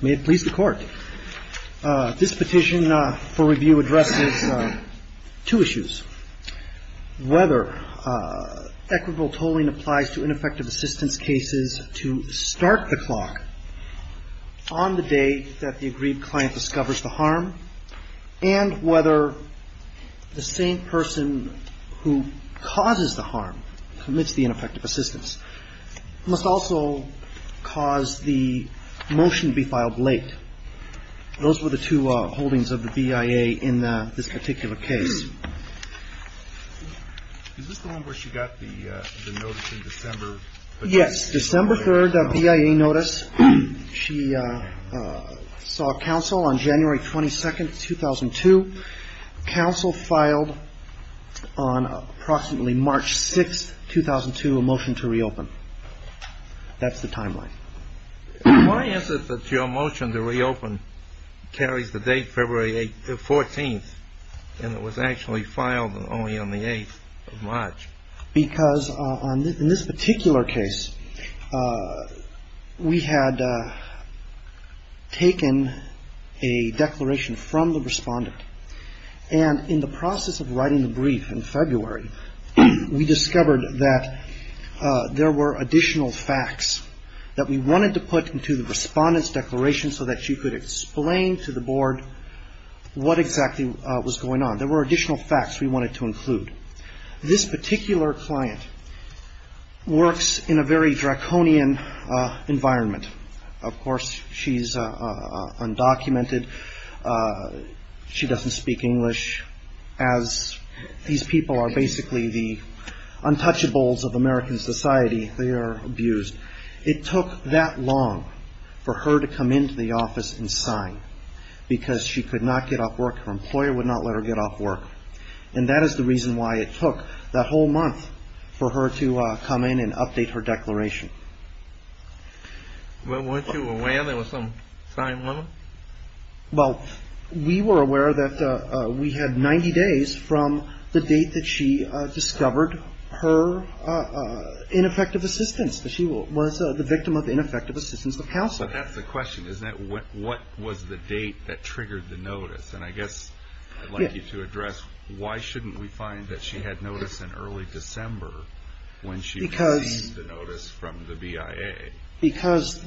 May it please the court. This petition for review addresses two issues. Whether equitable tolling applies to ineffective assistance cases to start the clock on the day that the agreed client discovers the harm, and whether the same person who causes the harm, commits the ineffective assistance, must also cause the motion to be filed on the same day. Those were the two holdings of the BIA in this particular case. Is this the one where she got the notice in December? Yes, December 3rd, a BIA notice. She saw counsel on January 22nd, 2002. Counsel filed on approximately March 6th, 2002, a motion to reopen. That's the timeline. Why is it that your motion to reopen carries the date February 14th, and it was actually filed only on the 8th of March? Because in this particular case, we had taken a declaration from the respondent, and in the process of writing the brief in February, we discovered that there were additional facts that we wanted to put into the respondent's declaration so that she could explain to the board what exactly was going on. There were additional facts we wanted to include. This particular client works in a very draconian environment. Of course, she's undocumented. She doesn't speak English, as these people are basically the untouchables of American society. They are abused. It took that long for her to come into the office and sign because she could not get off work. Her employer would not let her get off work, and that is the reason why it took that whole month for her to come in and update her declaration. Well, weren't you aware there was some sign limit? Well, we were aware that we had 90 days from the date that she discovered her ineffective assistance, that she was the victim of ineffective assistance of counsel. But that's the question, isn't it? What was the date that triggered the notice? And I guess I'd like you to address why shouldn't we find that she had notice in early December when she received the notice from the BIA? Because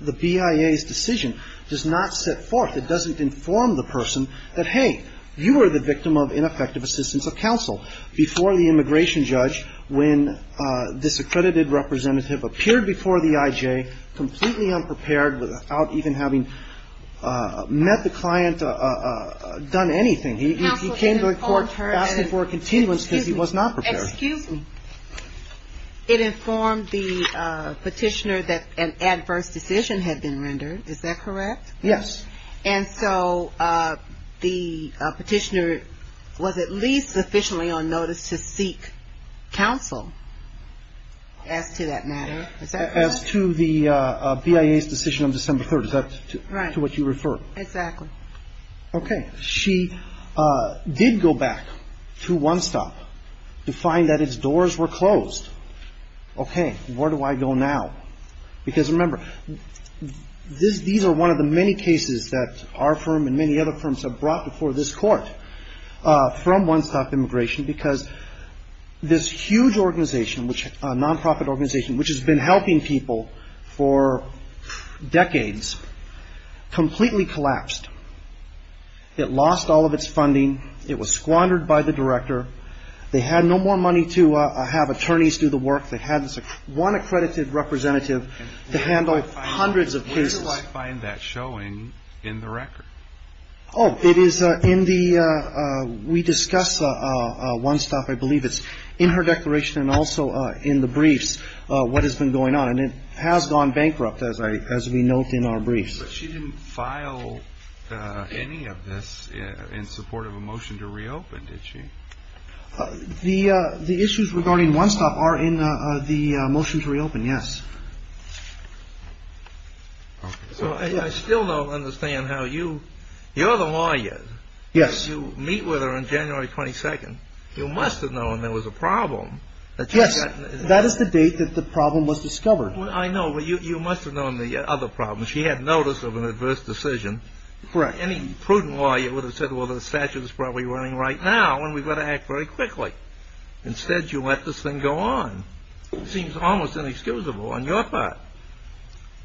the BIA's decision does not set forth, it doesn't inform the person that, hey, you were the victim of ineffective assistance of counsel before the immigration judge when this accredited representative appeared before the IJ completely unprepared without even having met the client, done anything. He came to the court asking for a continuance because he was not prepared. Excuse me. It informed the petitioner that an adverse decision had been rendered. Is that correct? Yes. And so the petitioner was at least officially on notice to seek counsel as to that matter. As to the BIA's decision on December 3rd. Is that to what you refer? Right. Exactly. Okay. She did go back to One Stop to find that its doors were closed. Okay. Where do I go now? Because remember, these are one of the many cases that our firm and many other firms have brought before this court from One Stop Immigration because this huge organization, non-profit organization, which has been helping people for decades, completely collapsed. It lost all of its funding. It was squandered by the director. They had no more money to have attorneys do the work. They had one accredited representative to handle hundreds of cases. Where did you find that showing in the record? Oh, it is in the, we discuss One Stop, I believe it's in her declaration and also in the briefs what has been going on. And it has gone bankrupt as we note in our briefs. But she didn't file any of this in support of a motion to reopen, did she? The issues regarding One Stop are in the motion to reopen, yes. So I still don't understand how you, you're the lawyer. Yes. You meet with her on January 22nd. You must have known there was a problem. Yes. That is the date that the problem was discovered. I know, but you must have known the other problem. She had notice of an adverse decision. Correct. Any prudent lawyer would have said, well, the statute is probably running right now and we've got to act very quickly. Instead, you let this thing go on. It seems almost inexcusable on your part.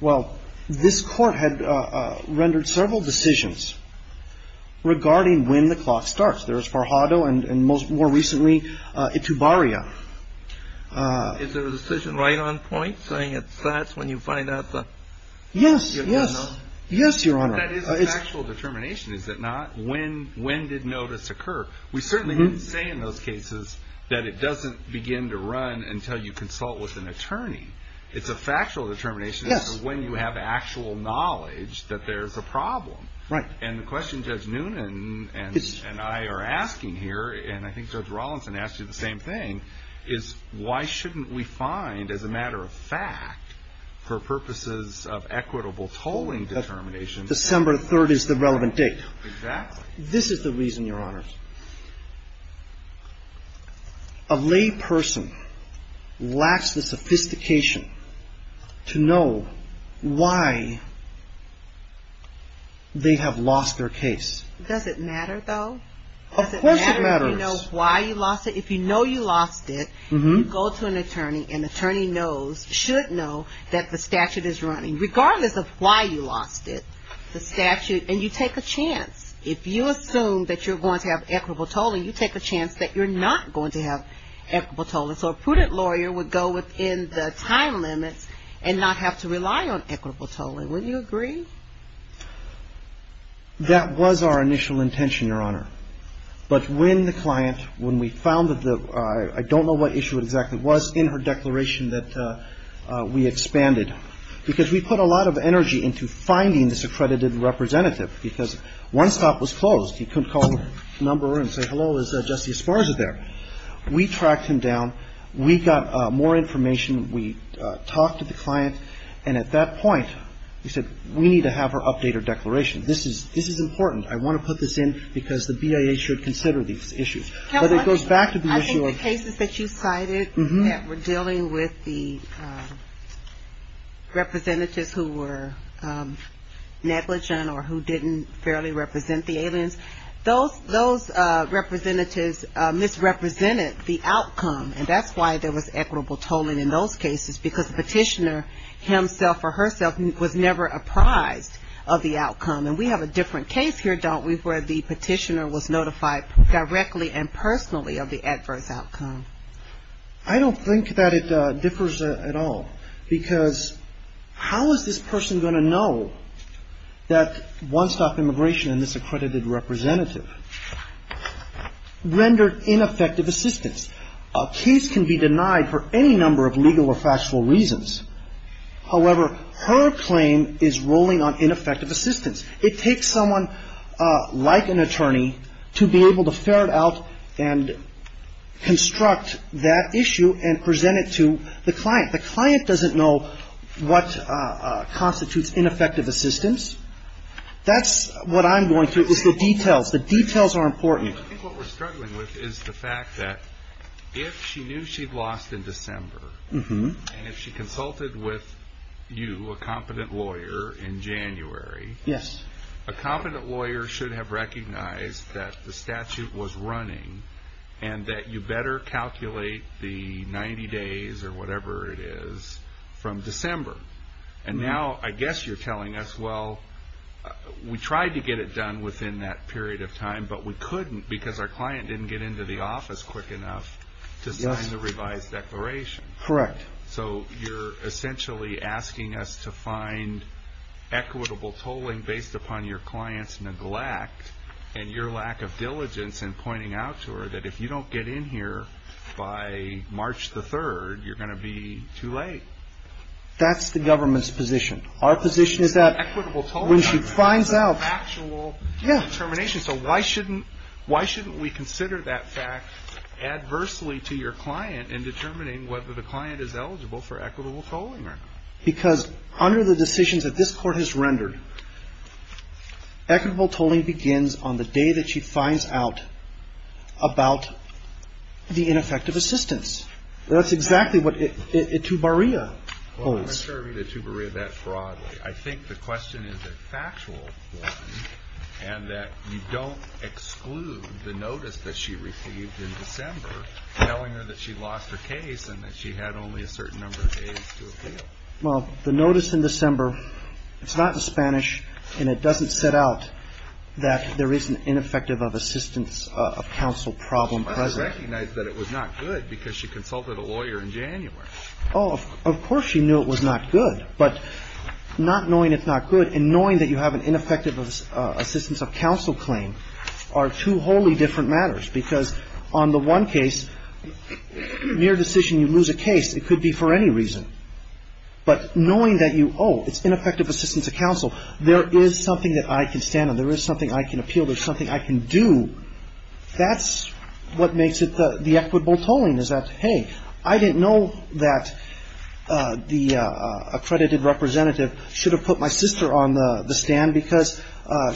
Well, this court had rendered several decisions regarding when the clock starts. There was Farhado and more recently Itubaria. Is there a decision right on point saying that's when you find out the... Yes, yes, yes, Your Honor. That is a factual determination, is it not? When did notice occur? We certainly didn't say in those cases that it doesn't begin to run until you consult with an attorney. It's a factual determination. Yes. When you have actual knowledge that there's a problem. Right. And the question Judge Noonan and I are asking here, and I think Judge Rawlinson asked you the same thing, is why shouldn't we find, as a matter of fact, for purposes of equitable tolling determination... December 3rd is the relevant date. Exactly. This is the reason, Your Honor. A lay person lacks the sophistication to know why they have lost their case. Does it matter, though? Of course it matters. Does it matter if you know why you lost it? If you know you lost it, you go to an attorney and the attorney knows, should know, that the statute is running. And you take a chance. If you assume that you're going to have equitable tolling, you take a chance that you're not going to have equitable tolling. So a prudent lawyer would go within the time limits and not have to rely on equitable tolling. Wouldn't you agree? That was our initial intention, Your Honor. But when the client, when we found that the... I don't know what issue it exactly was in her declaration that we expanded. Because we put a lot of energy into finding this accredited representative. Because one stop was closed. You couldn't call her number and say, hello, is Jesse Esparza there? We tracked him down. We got more information. We talked to the client. And at that point, we said, we need to have her update her declaration. This is important. I want to put this in because the BIA should consider these issues. But it goes back to the issue of... Representatives who were negligent or who didn't fairly represent the aliens, those representatives misrepresented the outcome. And that's why there was equitable tolling in those cases. Because the petitioner himself or herself was never apprised of the outcome. And we have a different case here, don't we, where the petitioner was notified directly and personally of the adverse outcome. I don't think that it differs at all. Because how is this person going to know that one stop immigration and this accredited representative rendered ineffective assistance? A case can be denied for any number of legal or factual reasons. However, her claim is ruling on ineffective assistance. It takes someone like an attorney to be able to ferret out and construct that issue and present it to the client. The client doesn't know what constitutes ineffective assistance. That's what I'm going through, is the details. The details are important. I think what we're struggling with is the fact that if she knew she'd lost in December, and if she consulted with you, a competent lawyer, in January, a competent lawyer should have recognized that the statute was running and that you better calculate the 90 days or whatever it is from December. And now I guess you're telling us, well, we tried to get it done within that period of time, but we couldn't because our client didn't get into the office quick enough to sign the revised declaration. Correct. So you're essentially asking us to find equitable tolling based upon your client's neglect and your lack of diligence in pointing out to her that if you don't get in here by March the 3rd, you're going to be too late. That's the government's position. Our position is that when she finds out the actual determination, so why shouldn't we consider that fact adversely to your client in determining whether the client is eligible for equitable tolling? Because under the decisions that this Court has rendered, equitable tolling begins on the day that she finds out about the ineffective assistance. That's exactly what Etubaria holds. Well, I'm not sure I read Etubaria that broadly. I think the question is a factual one and that you don't exclude the notice that she received in December telling her that she lost her case and that she had only a certain number of days to appeal. Well, the notice in December, it's not in Spanish, and it doesn't set out that there is an ineffective assistance of counsel problem present. She recognized that it was not good because she consulted a lawyer in January. Oh, of course she knew it was not good, but not knowing it's not good and knowing that you have an ineffective assistance of counsel claim are two wholly different matters because on the one case, mere decision, you lose a case, it could be for any reason. But knowing that you, oh, it's ineffective assistance of counsel, there is something that I can stand on, there is something I can appeal, there's something I can do, that's what makes it the equitable tolling is that, hey, I didn't know that the accredited representative should have put my sister on the stand because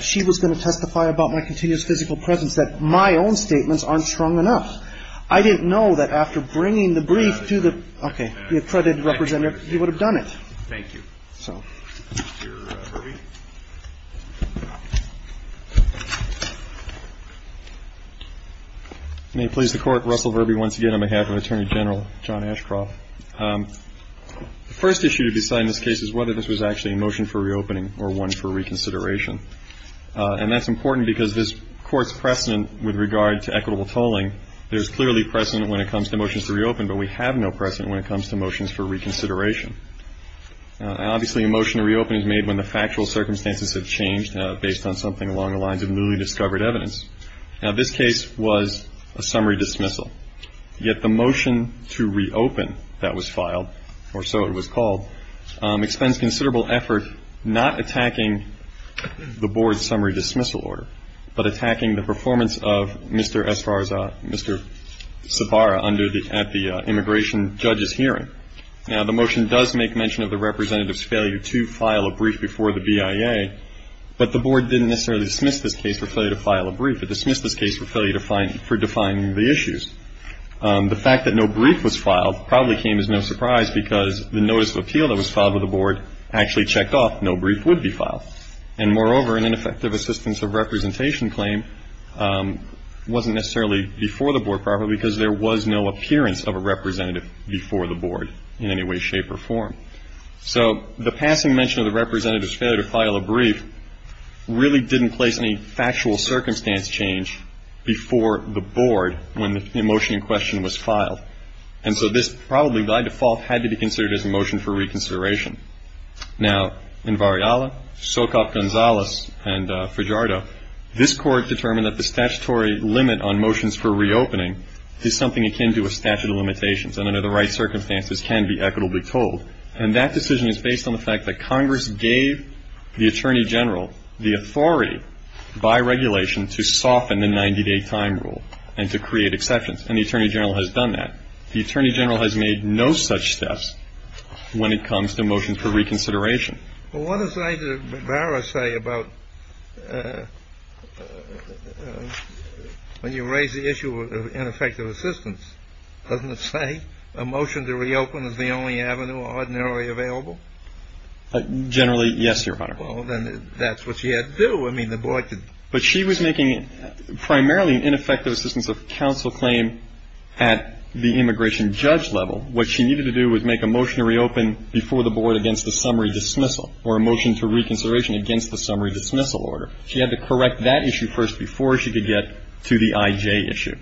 she was going to testify about my continuous physical presence, that my own statements aren't strong enough. I didn't know that after bringing the brief to the accredited representative, he would have done it. Thank you. So, Mr. Verby. May it please the Court, Russell Verby once again on behalf of Attorney General John Ashcroft. The first issue to be decided in this case is whether this was actually a motion for reopening or one for reconsideration. And that's important because this Court's precedent with regard to equitable tolling, there's clearly precedent when it comes to motions to reopen, but we have no precedent when it comes to motions for reconsideration. Now, obviously, a motion to reopen is made when the factual circumstances have changed based on something along the lines of newly discovered evidence. Now, this case was a summary dismissal. Yet the motion to reopen that was filed, or so it was called, expends considerable effort not attacking the Board's summary dismissal order, but attacking the performance of Mr. Esparza, Mr. Sabara, at the immigration judge's hearing. Now, the motion does make mention of the representative's failure to file a brief before the BIA, but the Board didn't necessarily dismiss this case for failure to file a brief. It dismissed this case for failure to find the issues. The fact that no brief was filed probably came as no surprise because the notice of appeal that was filed to the Board actually checked off. No brief would be filed. And, moreover, an ineffective assistance of representation claim wasn't necessarily before the Board probably because there was no appearance of a representative before the Board in any way, shape, or form. So the passing mention of the representative's failure to file a brief really didn't place any factual circumstance change before the Board when the motion in question was filed. And so this probably by default had to be considered as a motion for reconsideration. Now, in Vareala, Socop, Gonzalez, and Fragiardo, this Court determined that the statutory limit on motions for reopening is something akin to a statute of limitations and under the right circumstances can be equitably told. And that decision is based on the fact that Congress gave the Attorney General the authority by regulation to soften the 90-day time rule and to create exceptions. And the Attorney General has done that. The Attorney General has made no such steps when it comes to motions for reconsideration. Well, what does Ida Barra say about when you raise the issue of ineffective assistance? Doesn't it say a motion to reopen is the only avenue ordinarily available? Generally, yes, Your Honor. Well, then that's what she had to do. I mean, the Board could... But she was making primarily an ineffective assistance of counsel claim at the immigration judge level. What she needed to do was make a motion to reopen before the Board against the summary dismissal or a motion to reconsideration against the summary dismissal order. She had to correct that issue first before she could get to the IJ issue.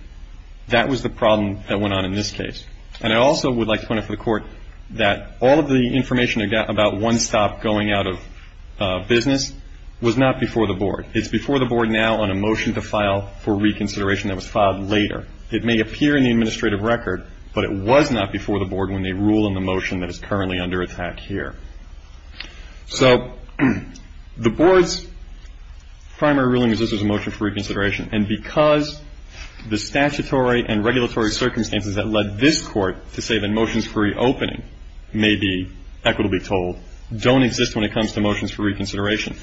That was the problem that went on in this case. And I also would like to point out for the Court that all of the information about one stop going out of business was not before the Board. It's before the Board now on a motion to file for reconsideration that was filed later. It may appear in the administrative record, but it was not before the Board when they rule in the motion that is currently under attack here. So the Board's primary ruling is this is a motion for reconsideration. And because the statutory and regulatory circumstances that led this Court to say that motions for reopening may be equitably told don't exist when it comes to motions for reconsideration.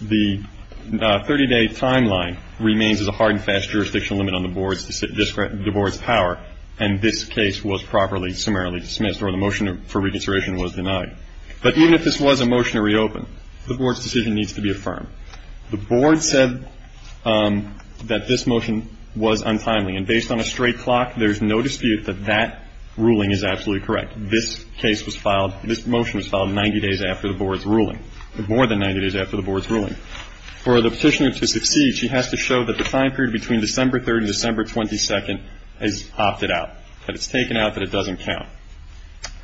The 30-day timeline remains as a hard and fast jurisdiction limit on the Board's power, and this case was properly summarily dismissed or the motion for reconsideration was denied. But even if this was a motion to reopen, the Board's decision needs to be affirmed. The Board said that this motion was untimely, and based on a straight clock, there's no dispute that that ruling is absolutely correct. This case was filed, this motion was filed 90 days after the Board's ruling. More than 90 days after the Board's ruling. For the petitioner to succeed, she has to show that the time period between December 3rd and December 22nd is opted out. That it's taken out, that it doesn't count.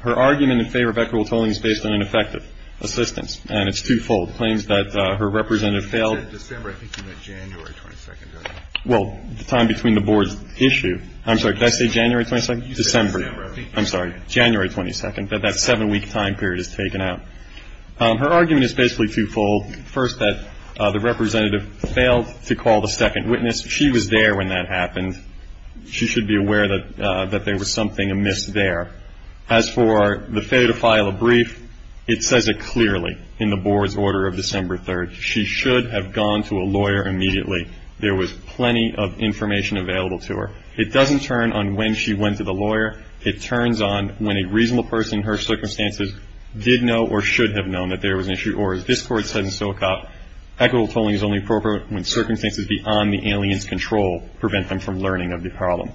Her argument in favor of equitable tolling is based on ineffective assistance, and it's twofold. Claims that her representative failed. You said December, I think you meant January 22nd. Well, the time between the Board's issue. I'm sorry, did I say January 22nd? December. I'm sorry, January 22nd, that that seven-week time period is taken out. Her argument is basically twofold. First, that the representative failed to call the second witness. She was there when that happened. She should be aware that there was something amiss there. As for the failure to file a brief, it says it clearly in the Board's order of December 3rd. She should have gone to a lawyer immediately. There was plenty of information available to her. It doesn't turn on when she went to the lawyer. It turns on when a reasonable person in her circumstances did know or should have known that there was an issue. Or, as this Court said in Silicop, equitable tolling is only appropriate when circumstances beyond the alien's control prevent them from learning of the problem.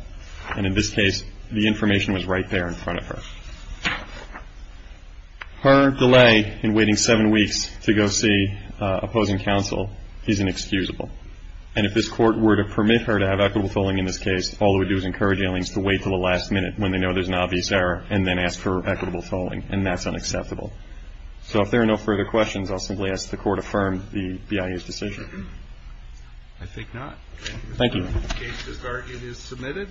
And in this case, the information was right there in front of her. Her delay in waiting seven weeks to go see opposing counsel is inexcusable. And if this Court were to permit her to have equitable tolling in this case, all it would do is encourage aliens to wait until the last minute when they know there's an obvious error and then ask for equitable tolling. And that's unacceptable. So if there are no further questions, I'll simply ask the Court affirm the BIA's decision. I think not. Thank you. The case is submitted.